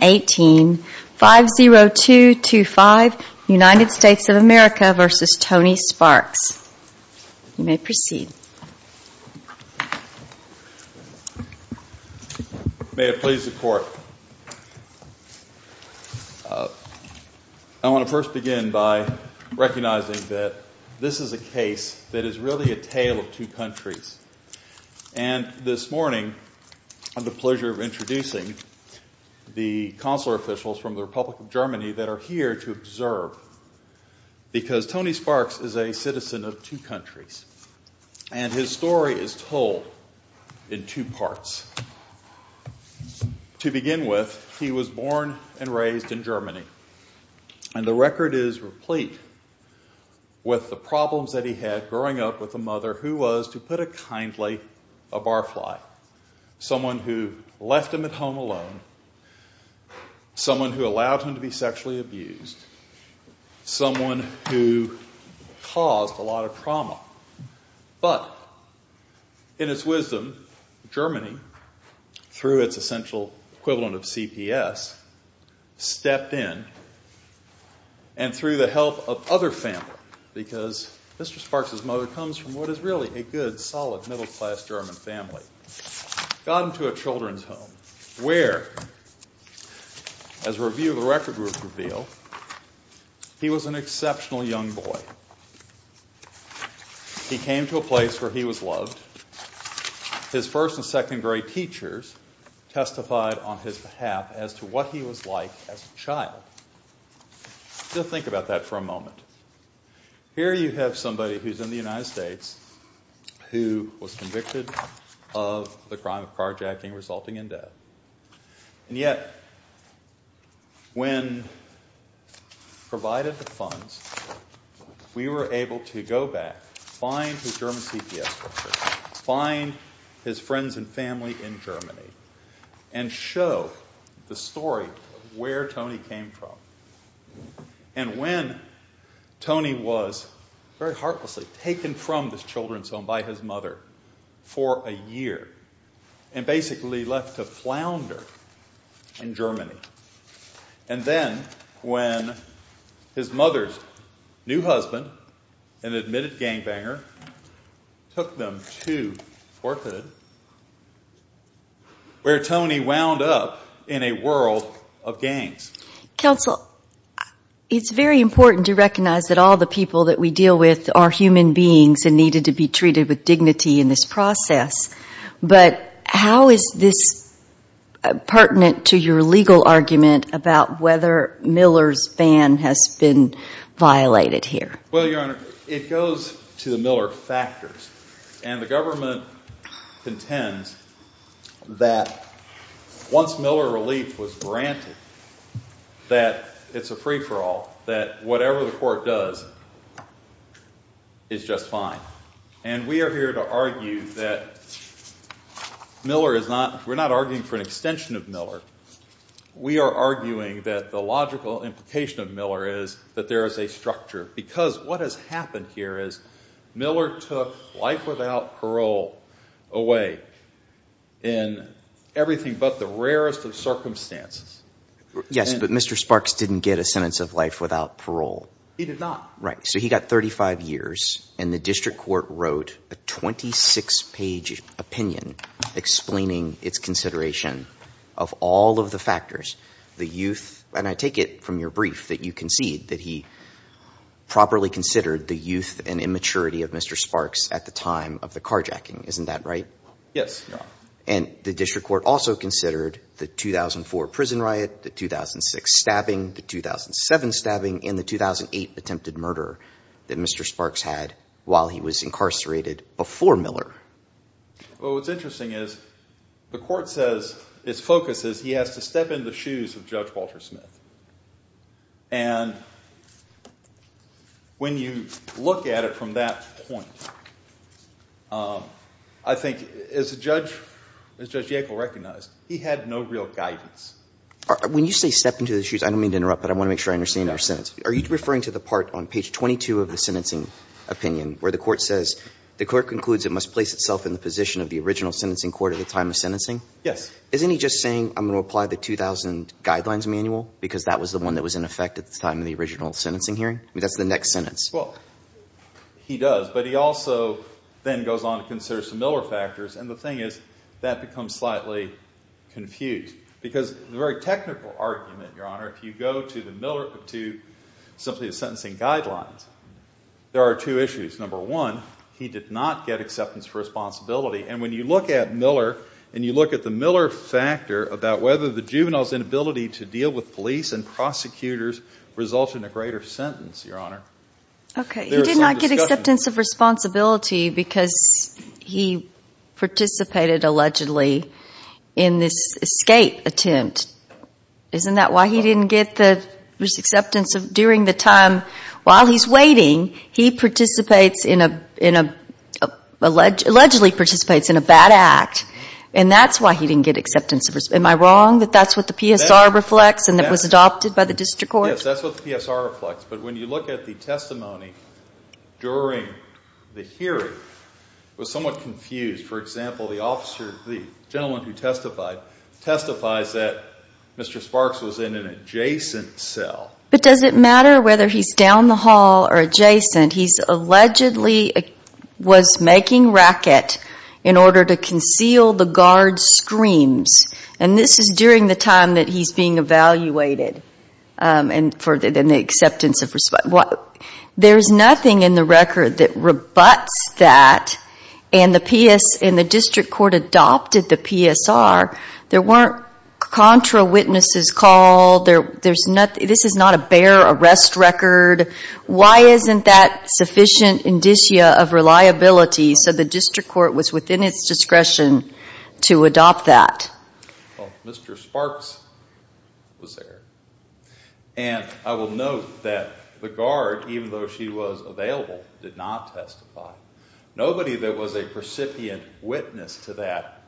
May it please the Court. I want to first begin by recognizing that this is a case that is from the Republic of Germany that are here to observe because Tony Sparks is a citizen of two countries and his story is told in two parts. To begin with, he was born and raised in Germany and the record is replete with the problems that he had growing up with a mother who was, to put it kindly, a barfly. Someone who left him at home alone, someone who allowed him to be sexually abused, someone who caused a lot of trauma. But in his wisdom, Germany, through its essential equivalent of CPS, stepped in and through the help of what is really a good, solid, middle class German family, got into a children's home where, as a review of the record would reveal, he was an exceptional young boy. He came to a place where he was loved. His first and second grade teachers testified on his behalf as to what he was like as a child. Just think about that for a moment. Here you have somebody who is in the United States who was convicted of the crime of carjacking resulting in death. And yet when provided the funds, we were able to go back, find his German CPS records, find his friends and family in Germany and show the story of where Tony came from. And when Tony was very heartlessly taken from this children's home by his mother for a year and basically left to flounder in Germany. And then when his mother's new husband, an admitted gangbanger, took them to Fort Hood, where Tony wound up in a world of gangs. Counsel, it's very important to recognize that all the people that we deal with are human beings and needed to be treated with dignity in this process. But how is this pertinent to your legal argument about whether Miller's ban has been violated here? Well, Your Honor, it goes to the Miller factors. And the government contends that once Miller relief was granted, that it's a free for all, that whatever the court does is just fine. And we are here to argue that Miller is not, we're not arguing for an extension of Miller. We are arguing that the logical implication of Miller is that there is a structure. Because what has happened here is Miller took life without parole away in everything but the rarest of circumstances. Yes, but Mr. Sparks didn't get a sentence of life without parole. He did not. Right. So he got 35 years and the district court wrote a 26 page opinion explaining its consideration of all of the factors, the youth. And I take it from your brief that you concede that he properly considered the youth and immaturity of Mr. Sparks at the time of the carjacking. Isn't that right? Yes, Your Honor. And the district court also considered the 2004 prison riot, the 2006 stabbing, the 2007 stabbing and the 2008 attempted murder that Mr. Sparks had while he was incarcerated before Miller. Well, what's interesting is the court says its focus is he has to step in the shoes of Judge Walter Smith. And when you look at it from that point, I think as Judge Yackel recognized, he had no real guidance. When you say step into the shoes, I don't mean to interrupt, but I want to make sure I understand your sentence. Are you referring to the part on page 22 of the sentencing opinion where the court says, the court concludes it must place itself in the position of the original sentencing court at the time of sentencing? Yes. Isn't he just saying I'm going to apply the 2000 guidelines manual because that was the one that was in effect at the time of the original sentencing hearing? I mean, that's the next sentence. Well, he does. But he also then goes on to consider some Miller factors. And the thing is, that becomes slightly confused. Because the very technical argument, Your Honor, if you go to simply the sentencing guidelines, there are two issues. Number one, he did not get acceptance for responsibility. And when you look at Miller and you look at the Miller factor about whether the juvenile's inability to deal with police and prosecutors results in a greater sentence, Your Honor, there is some discussion. Okay. He did not get acceptance of responsibility because he participated allegedly in this escape attempt. Isn't that why he didn't get the acceptance during the time? While he's waiting, he participates in a, allegedly participates in a bad act. And that's why he didn't get acceptance. Am I wrong that that's what the PSR reflects and that was adopted by the district court? Yes, that's what the PSR reflects. But when you look at the testimony during the hearing, it was somewhat confused. For example, the officer, the gentleman who testified, testifies that Mr. Sparks was in an adjacent cell. But does it matter whether he's down the hall or adjacent? He's allegedly was making racket in order to conceal the guard's screams. And this is during the time that he's being evaluated for the acceptance of responsibility. There's nothing in the record that rebuts that. And the district court adopted the PSR. There isn't that sufficient indicia of reliability, so the district court was within its discretion to adopt that. Mr. Sparks was there. And I will note that the guard, even though she was available, did not testify. Nobody that was a recipient witness to that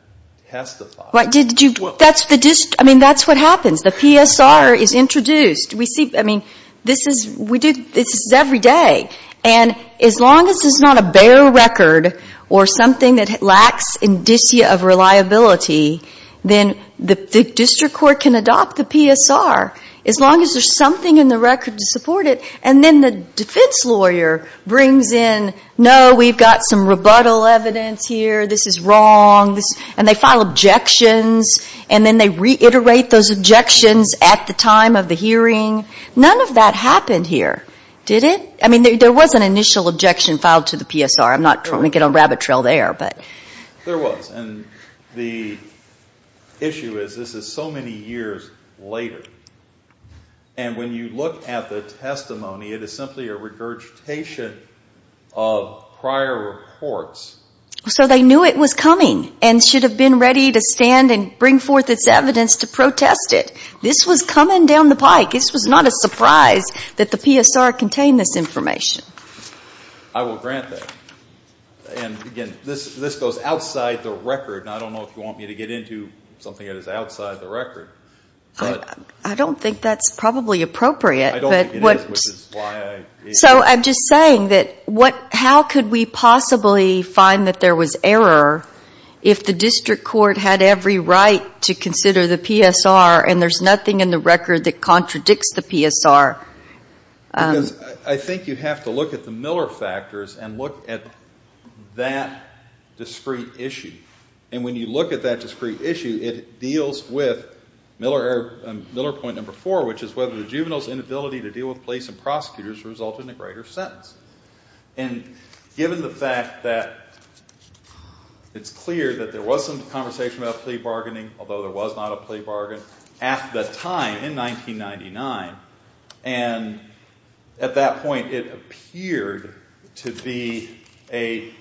testified. That's the district, I mean that's what happens. The PSR is introduced. We see, I mean, this is every day. And as long as there's not a bare record or something that lacks indicia of reliability, then the district court can adopt the PSR. As long as there's something in the record to support it. And then the defense lawyer brings in, no, we've got some rebuttal evidence here, this is wrong. And they file objections. And then they reiterate those objections at the time of the hearing. None of that happened here, did it? I mean, there was an initial objection filed to the PSR. I'm not trying to get on rabbit trail there, but. There was. And the issue is, this is so many years later. And when you look at the testimony, it is simply a regurgitation of prior reports. So they knew it was coming and should have been ready to stand and bring forth its evidence to protest it. This was coming down the pike. This was not a surprise that the PSR contained this information. I will grant that. And again, this goes outside the record. And I don't know if you want me to get into something that is outside the record. But. I don't think that's probably appropriate. I don't think it is, which is why I. So I'm just saying that what, how could we possibly find that there was error if the district court had every right to consider the PSR and there's nothing in the record that contradicts the PSR? Because I think you have to look at the Miller factors and look at that discrete issue. And when you look at that discrete issue, it deals with Miller error, Miller point number four, which is whether the juvenile's inability to deal with police and prosecutors result in a greater sentence. And given the fact that it's clear that there was some conversation about plea bargaining, although there was not a plea bargain at the time in 1999, and at that point it appeared to be a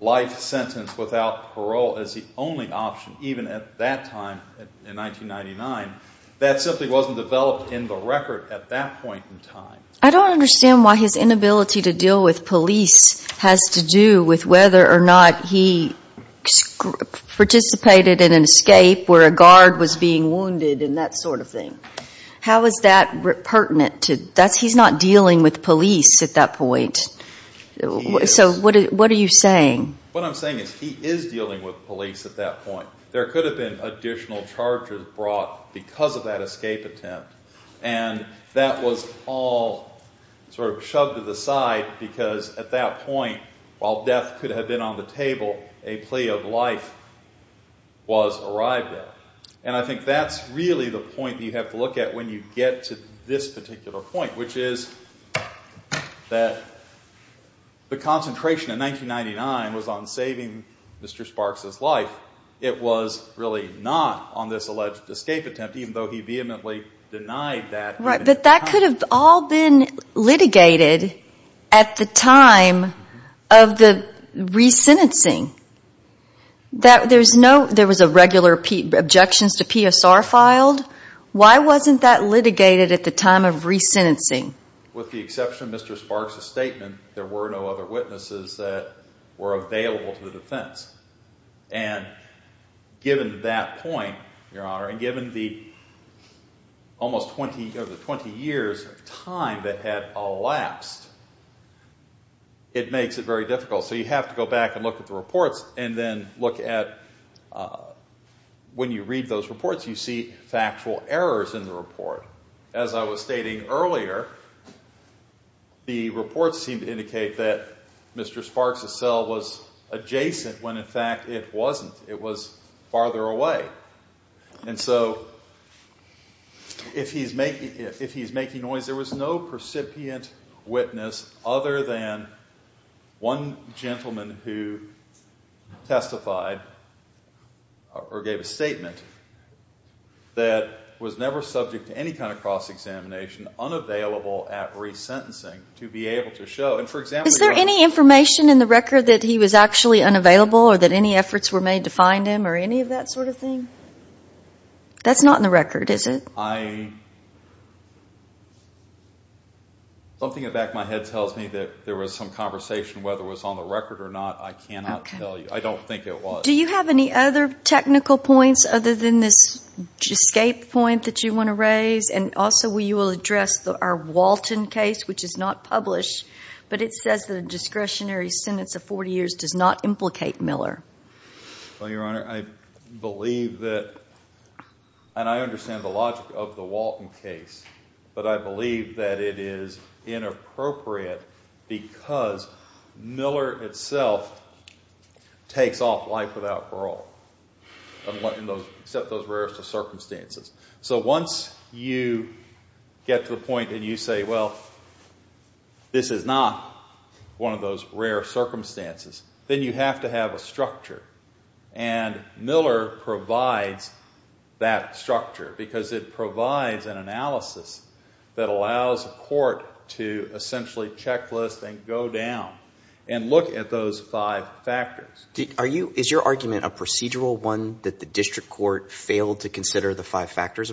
life sentence without parole as the only option, even at that time in 1999, that simply wasn't developed in the record at that point in time. I don't understand why his inability to deal with police has to do with whether or not he participated in an escape where a guard was being wounded and that sort of thing. How is that pertinent to, that's, he's not dealing with police at that point. He is. So what are you saying? What I'm saying is he is dealing with police at that point. There could have been additional charges brought because of that escape attempt. And that was all sort of shoved to the side because at that point, while death could have been on the table, a plea of life was arrived at. And I think that's really the point that you have to look at when you get to this particular point, which is that the concentration in 1999 was on saving Mr. Sparks' life. It was really not on this alleged escape attempt, even though he vehemently denied that. Right, but that could have all been litigated at the time of the re-sentencing. There was a regular objections to PSR filed. Why wasn't that litigated at the time of re-sentencing? With the exception of Mr. Sparks' statement, there were no other witnesses that were available to the defense. And given that point, Your Honor, and given the almost 20 years of time that had elapsed, it makes it very difficult. So you have to go back and look at the reports and then look at when you read those reports, you see factual errors in the report. As I was stating earlier, the reports seem to indicate that Mr. Sparks' cell was a jail adjacent, when in fact it wasn't. It was farther away. And so if he's making noise, there was no percipient witness other than one gentleman who testified or gave a statement that was never subject to any kind of cross-examination, unavailable at re-sentencing, to be able to show. And for example, Your Honor. Was there information in the record that he was actually unavailable or that any efforts were made to find him or any of that sort of thing? That's not in the record, is it? Something in the back of my head tells me that there was some conversation, whether it was on the record or not, I cannot tell you. I don't think it was. Do you have any other technical points other than this escape point that you want to raise? And also, you will address our Walton case, which is not published, but it says that a discretionary sentence of 40 years does not implicate Miller. Well, Your Honor, I believe that, and I understand the logic of the Walton case, but I believe that it is inappropriate because Miller itself takes off life without parole, except those who get to the point and you say, well, this is not one of those rare circumstances, then you have to have a structure. And Miller provides that structure because it provides an analysis that allows a court to essentially checklist and go down and look at those five factors. Is your argument a procedural one that the district court failed to consider the five factors,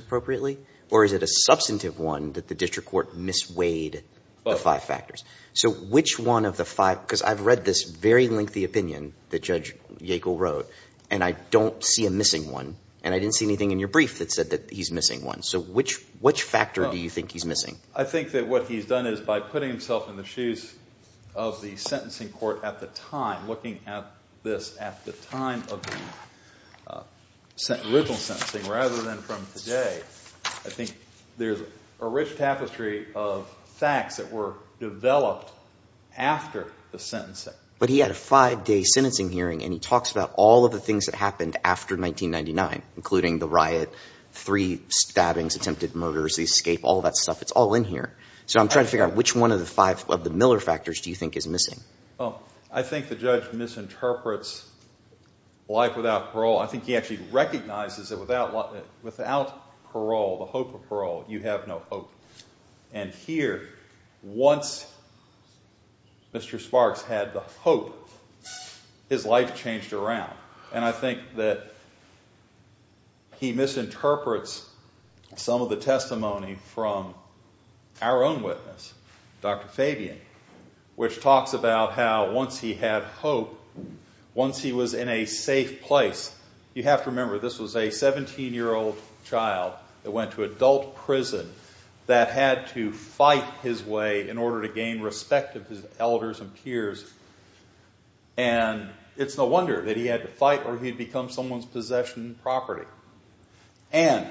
or is it a substantive one that the district court misweighed the five factors? So which one of the five, because I've read this very lengthy opinion that Judge Yackel wrote and I don't see a missing one, and I didn't see anything in your brief that said that he's missing one. So which factor do you think he's missing? I think that what he's done is by putting himself in the shoes of the sentencing court at the time, looking at this at the time of the original sentencing rather than from today, I think there's a rich tapestry of facts that were developed after the sentencing. But he had a five-day sentencing hearing and he talks about all of the things that happened after 1999, including the riot, three stabbings, attempted murders, the escape, all that stuff. It's all in here. So I'm trying to figure out which one of the five of the Miller factors do you think is missing? I think the judge misinterprets life without parole. I think he actually recognizes that without parole, the hope of parole, you have no hope. And here, once Mr. Sparks had the hope, his life changed around. And I think that he misinterprets some of the testimony from our own witness, Dr. Fabian, which talks about how once he had hope, once he was in a safe place, you have to remember this was a 17-year-old child that went to adult prison that had to fight his way in order to gain respect of his elders and peers. And it's no wonder that he had to fight or he'd become someone's possession of property. And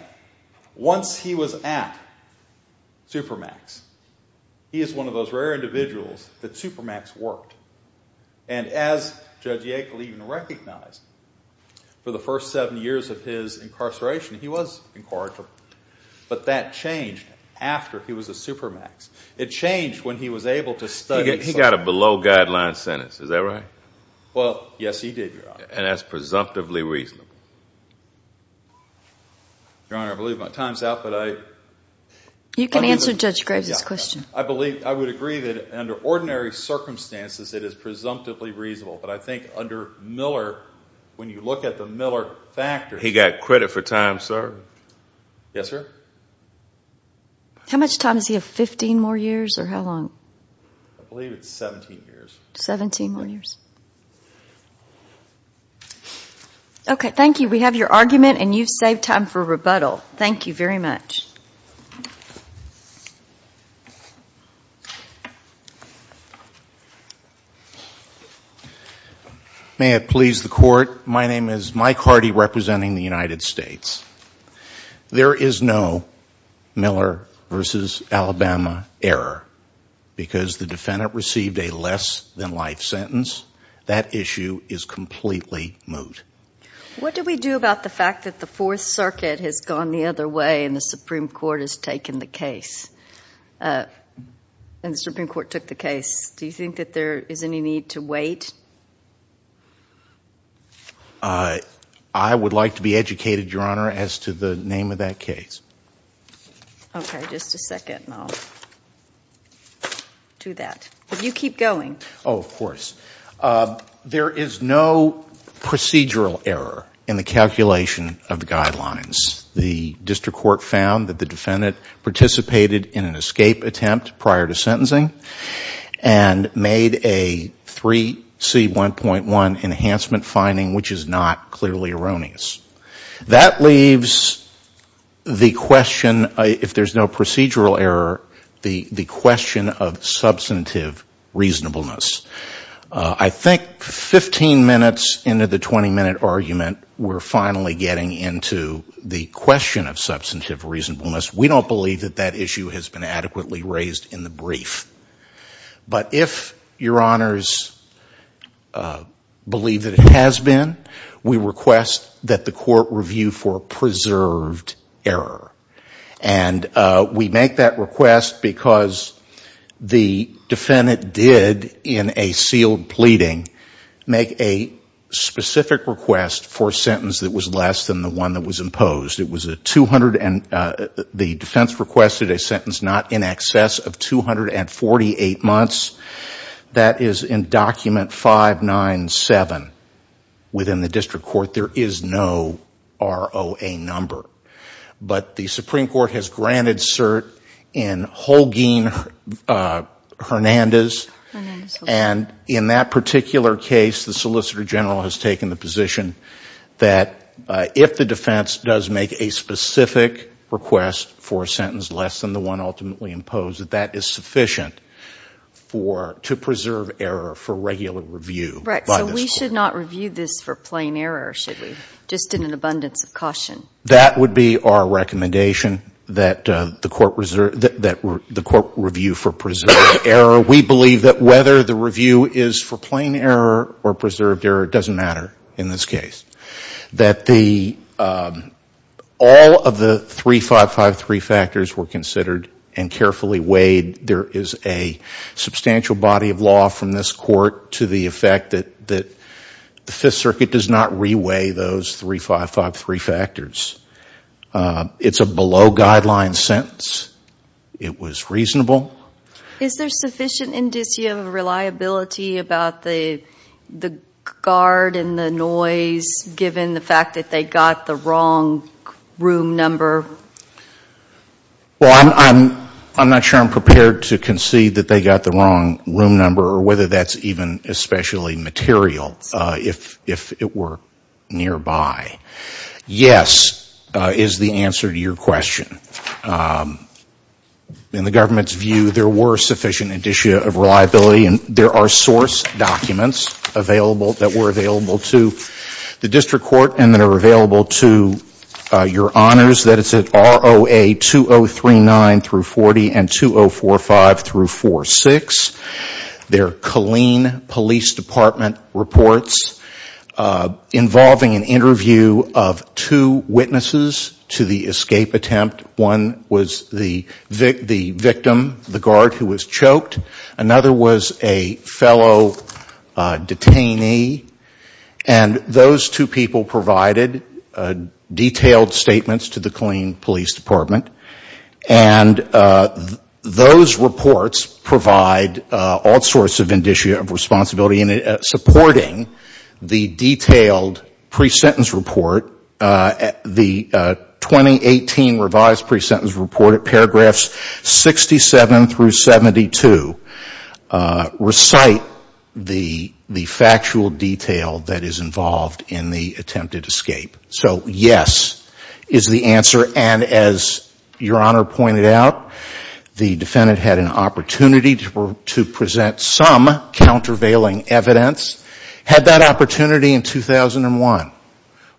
once he was at Supermax, he is one of those rare individuals that Supermax worked. And as Judge Yakel even recognized, for the first seven years of his incarceration, he was incorrigible. But that changed after he was at Supermax. It changed when he was able to study... He got a below-guideline sentence. Is that right? Well, yes, he did, Your Honor. And that's presumptively reasonable. Your Honor, I believe my time's out, but I... You can answer Judge Graves' question. I would agree that under ordinary circumstances, it is presumptively reasonable. But I think under Miller, when you look at the Miller factors... He got credit for time, sir. Yes, sir? How much time? Does he have 15 more years or how long? I believe it's 17 years. 17 more years. Okay, thank you. We have your argument, and you've saved time for rebuttal. Thank you very much. May it please the Court, my name is Mike Hardy, representing the United States. There is no Miller v. Alabama error, because the defendant received a less-than-life sentence. That issue is completely moot. What do we do about the fact that the Fourth Circuit has gone the other way and the Supreme Court took the case? Do you think that there is any need to wait? I would like to be educated, Your Honor, as to the name of that case. Okay, just a second. I'll do that. But you keep going. Oh, of course. There is no procedural error in the calculation of the guidelines. The defendant, prior to sentencing, made a 3C1.1 enhancement finding, which is not clearly erroneous. That leaves the question, if there is no procedural error, the question of substantive reasonableness. I think 15 minutes into the 20-minute argument, we're finally getting into the question of in the brief. But if Your Honors believe that it has been, we request that the Court review for preserved error. And we make that request because the defendant did, in a sealed pleading, make a specific request for a sentence that was less than the one that was imposed. The defense requested a sentence not in excess of 248 months. That is in Document 597 within the District Court. There is no ROA number. But the Supreme Court has granted cert in Holguin-Hernandez. And in that particular case, the Solicitor General has taken the position that if the defense does make a specific request for a sentence less than the one ultimately imposed, that that is sufficient to preserve error for regular review by the Court. Right. So we should not review this for plain error, should we? Just in an abundance of caution. That would be our recommendation, that the Court review for preserved error. We believe that whether the review is for plain error or preserved error, it doesn't matter in this case. Three 553 factors were considered and carefully weighed. There is a substantial body of law from this Court to the effect that the Fifth Circuit does not re-weigh those three 553 factors. It's a below guideline sentence. It was reasonable. Is there sufficient indicia of reliability about the guard and the noise, given the fact that they got the wrong room number? Well, I'm not sure I'm prepared to concede that they got the wrong room number, or whether that's even especially material, if it were nearby. Yes, is the answer to your question. In the government's view, there were sufficient indicia of reliability. And there are source documents that were available to the District Court and that are available to your Honors. That is at ROA 2039-40 and 2045-46. There are Colleen Police Department reports, involving an interview of two witnesses to the escape attempt. One was the victim, the guard who was choked. Another was a fellow detainee. And those two people provided detailed statements to the Colleen Police Department. And those reports provide all sorts of indicia of responsibility in supporting the detailed pre-sentence report, the 2018 revised pre-sentence report at paragraphs 67 through 72, recite the factual detail that is involved in the attempted escape. So yes, is the answer. And as Your Honor pointed out, the defendant had an opportunity to present some countervailing evidence. Had that opportunity in 2001.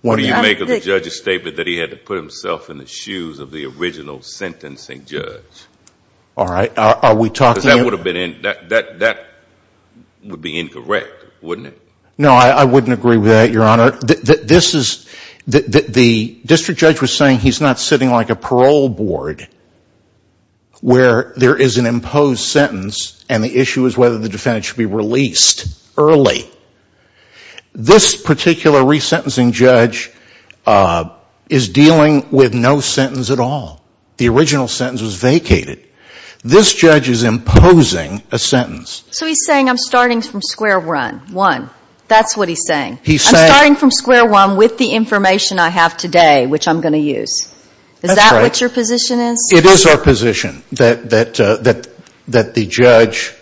What do you make of the judge's statement that he had to put himself in the shoes of the original sentencing judge? That would be incorrect, wouldn't it? No I wouldn't agree with that, Your Honor. The District Judge was saying he's not sitting like a parole board where there is an imposed sentence and the issue is whether the defendant should be released early. This particular re-sentencing judge is dealing with no sentence at all. The original sentence was vacated. This judge is imposing a sentence. So he's saying I'm starting from square one. That's what he's saying. I'm starting from square one with the information I have today, which I'm going to use. Is that what your position is? It is our position that the judge,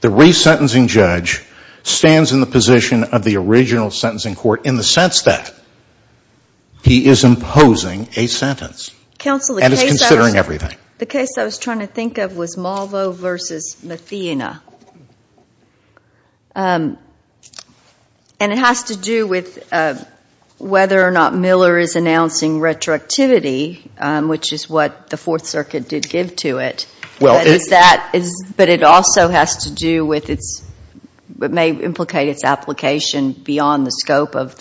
the re-sentencing judge, stands in the position of the original sentencing court in the sense that he is imposing a sentence and is considering everything. The case I was trying to think of was Malvo v. Mathena. And it has to do with whether or not Miller is announcing retroactivity, which is what the Fourth Circuit did give to it. But it also has to do with its, it may implicate its application beyond the Supreme Scope of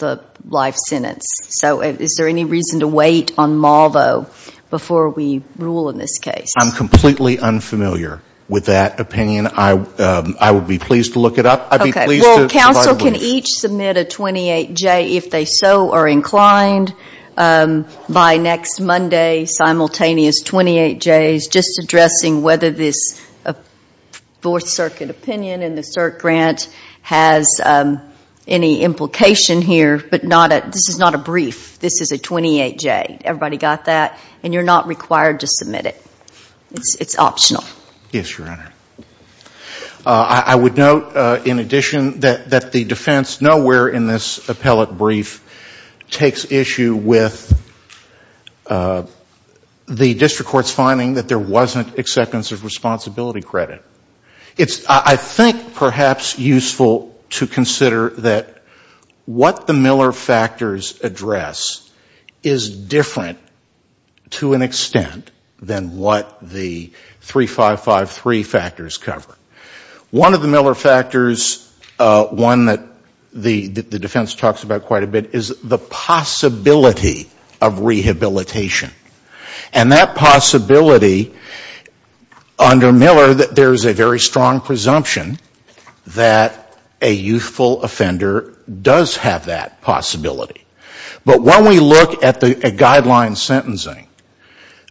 the life sentence. So is there any reason to wait on Malvo before we rule in this case? I'm completely unfamiliar with that opinion. I would be pleased to look it up. Okay. Well, counsel can each submit a 28-J if they so are inclined by next Monday, simultaneous 28-Js, just addressing whether this Fourth Circuit opinion in the CERC grant has any implication here, but not a, this is not a brief. This is a 28-J. Everybody got that? And you're not required to submit it. It's optional. Yes, Your Honor. I would note, in addition, that the defense nowhere in this appellate brief takes issue with the district court's finding that there wasn't acceptance of responsibility credit. It's, I think, perhaps useful to consider that what the Miller factors address is different to an extent than what the 3553 factors cover. One of the Miller factors, one that the defense talks about quite a bit, is the possibility of rehabilitation. And that possibility under that there is a very strong presumption that a youthful offender does have that possibility. But when we look at the guideline sentencing,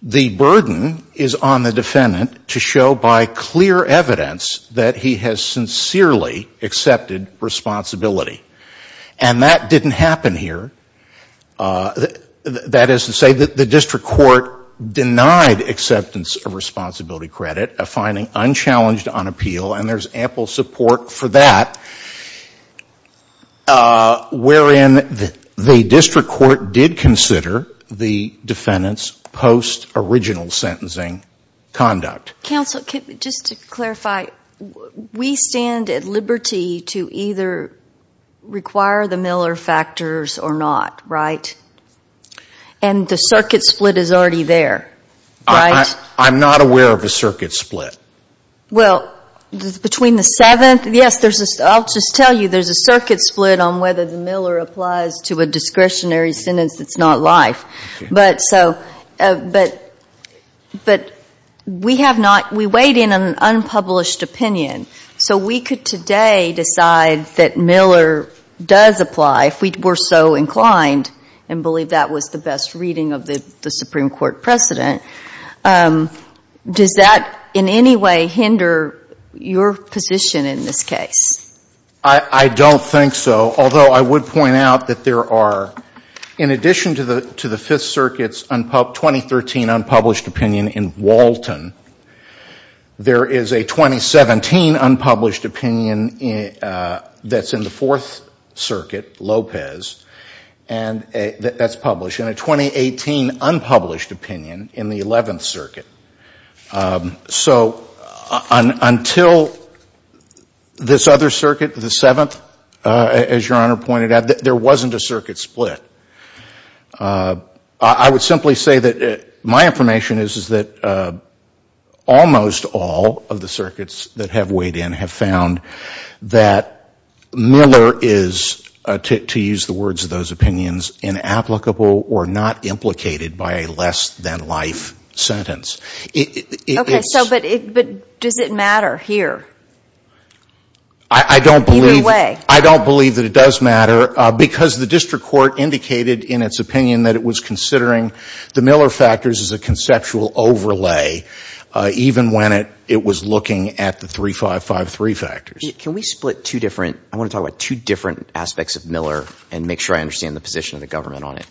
the burden is on the defendant to show by clear evidence that he has sincerely accepted responsibility. And that didn't happen here. That is to say that the district court denied acceptance of responsibility credit, a finding unchallenged on appeal, and there's ample support for that, wherein the district court did consider the defendant's post-original sentencing conduct. Counsel, just to clarify, we stand at liberty to either require the Miller factors or not right? And the circuit split is already there, right? I'm not aware of a circuit split. Well, between the 7th, yes, I'll just tell you there's a circuit split on whether the Miller applies to a discretionary sentence that's not life. But we have not, we wait in an unpublished opinion. So we could today decide that Miller does apply if we're so inclined, and believe that was the best reading of the Supreme Court precedent. Does that in any way hinder your position in this case? I don't think so. Although I would point out that there are, in addition to the 5th Circuit's 2013 unpublished opinion in Walton, there is a 2017 unpublished opinion that's in the 4th Circuit, Lopez, and that's published, and a 2018 unpublished opinion in the 11th Circuit. So until this other circuit, the 7th, as Your Honor pointed out, there wasn't a circuit split. I would simply say that my information is that almost all of the circuits that have weighed in have found that Miller is, to use the words of those opinions, inapplicable or not implicated by a less-than-life sentence. Okay, so but does it matter here, either way? I don't believe that it does matter, because the district court indicated in its opinion that it was considering the Miller factors as a conceptual overlay, even when it was looking at the 3553 factors. Can we split two different – I want to talk about two different aspects of Miller and make sure I understand the position of the government on it.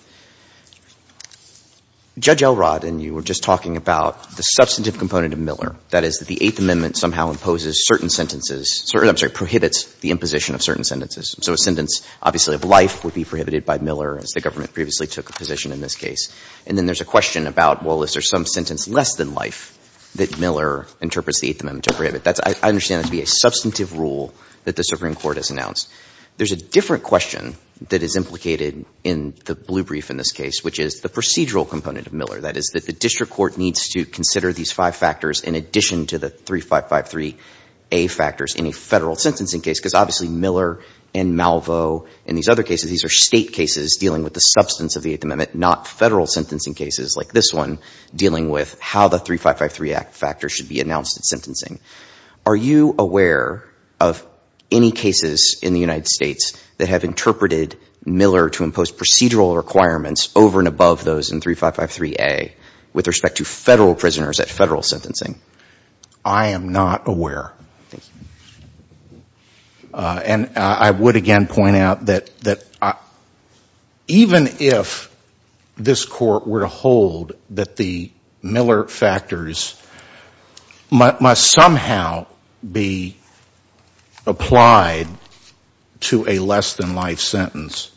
Judge Elrod and you were just talking about the substantive component of Miller, that is, that the Eighth Amendment somehow imposes certain sentences – I'm sorry, prohibits the imposition of certain sentences. So a sentence, obviously, of life would be prohibited by Miller, as the government previously took a position in this case. And then there's a question about, well, is there some sentence less than life that Miller interprets the Eighth Amendment to prohibit? I understand that to be a substantive rule that the Supreme Court has announced. There's a different question that is implicated in the blue brief in this case, which is the procedural component of Miller, that is, that the district court needs to consider these five factors in addition to the 3553A factors in a Federal sentencing case, because obviously Miller and Malvo and these other cases, these are State cases dealing with the substance of the Eighth Amendment, not Federal sentencing cases like this one dealing with how the 3553A factor should be announced in sentencing. Are you aware of any cases in the United States that have interpreted Miller to impose procedural requirements over and above those in 3553A with respect to Federal prisoners at Federal sentencing? I am not aware. And I would again point out that even if this Court were to hold that the Miller factors must somehow be applied to a less than life sentence,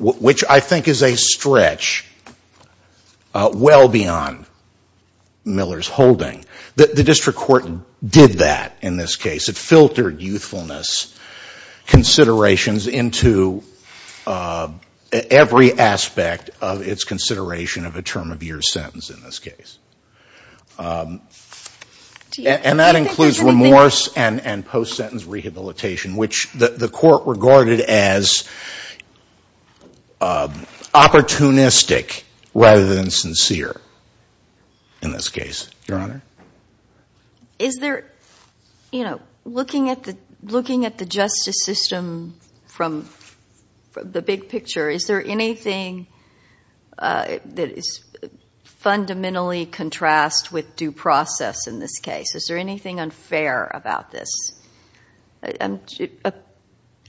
which I think is a stretch well beyond Miller's holding. The district court did that in this case. It filtered youthfulness considerations into every aspect of its consideration of a term of year sentence in this case. And that includes remorse and post-sentence rehabilitation, which the Court regarded as opportunistic rather than sincere in this case. Your Honor? Is there, you know, looking at the justice system from the big picture, is there anything that is fundamentally contrasted with due process in this case? Is there anything unfair about this?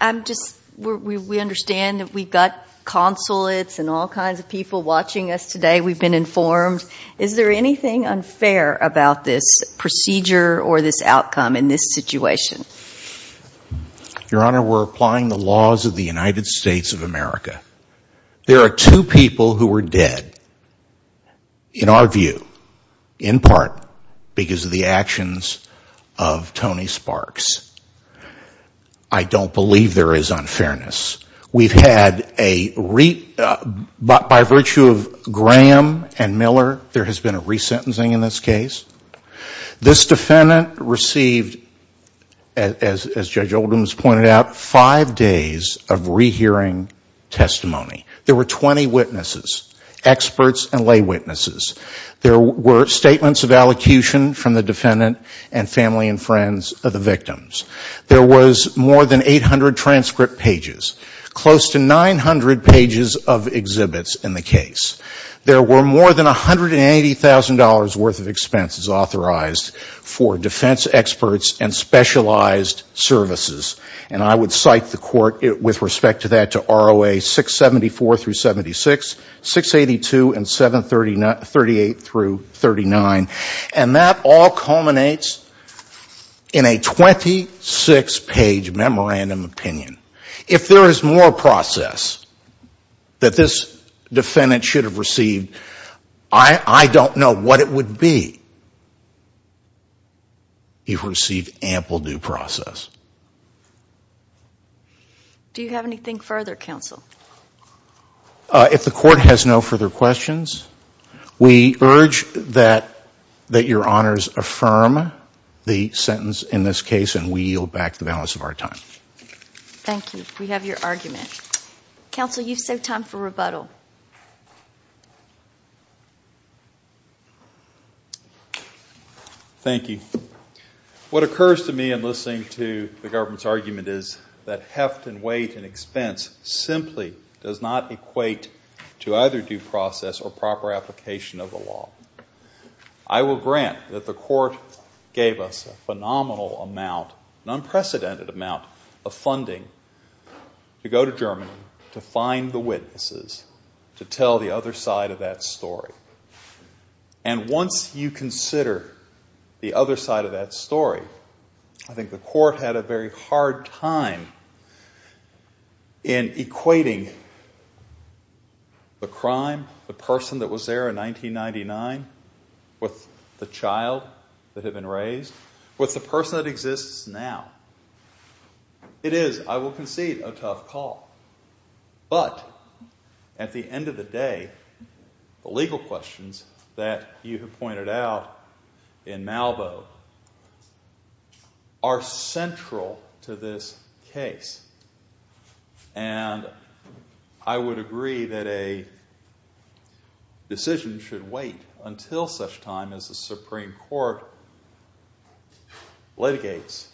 I'm just, we understand that we've got consulates and all kinds of people watching us today. We've been informed. Is there anything unfair about this procedure or this outcome in this situation? Your Honor, we're applying the laws of the United States of America. There are two people who were dead, in our view, in part because of the actions of Tony Sparks. I don't believe there is unfairness. We've had a, by virtue of Graham and Miller, there has been a resentencing in this case. This defendant received, as Judge Oldham's pointed out, five days of rehearing testimony. There were 20 witnesses, experts and lay witnesses. There were statements of allocution from the defendant and family and friends of the victims. There was more than 800 transcript pages, close to 900 pages of exhibits in the case. There were more than $180,000 worth of expenses authorized for defense experts and specialized services. And I would cite the court with respect to that to ROA 674 through 76, 682 and 738 through 39. And that all culminates in a 26 page memorandum opinion. If there is more process that this defendant should have received, I don't know what it would be. You've received ample due process. Do you have anything further, counsel? If the court has no further questions, we urge that your honors affirm the sentence in this case and we yield back the balance of our time. Thank you. We have your argument. Counsel, you've saved time for rebuttal. Thank you. What occurs to me in listening to the government's argument is that heft and weight and expense simply does not equate to either due process or proper application of the law. I will grant that the court gave us a phenomenal amount, an unprecedented amount of funding to go to Germany to find the witnesses to tell the other side of that story. And once you consider the other side of that story, I think the court had a very hard time in equating the crime, the person that was there in 1999 with the child that had been raised with the person that exists now. It is, I will concede, a tough call. But at the end of the day, the legal questions that you have pointed out in Malveaux are central to this case. And I would agree that a decision should wait until such time as the Supreme Court litigates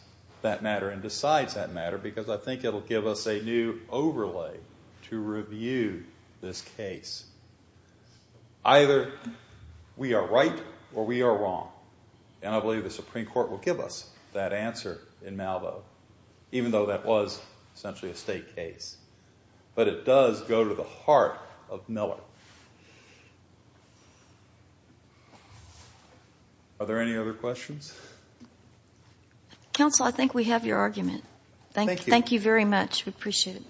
that matter and decides that matter because I think it will give us a new overlay to review this case. Either we are right or we are wrong and I believe the Supreme Court will give us that answer in Malveaux, even though that was essentially a state case. But it does go to the heart of Miller. The Supreme Court will decide. Are there any other questions? Counsel, I think we have your argument. Thank you very much. We appreciate it.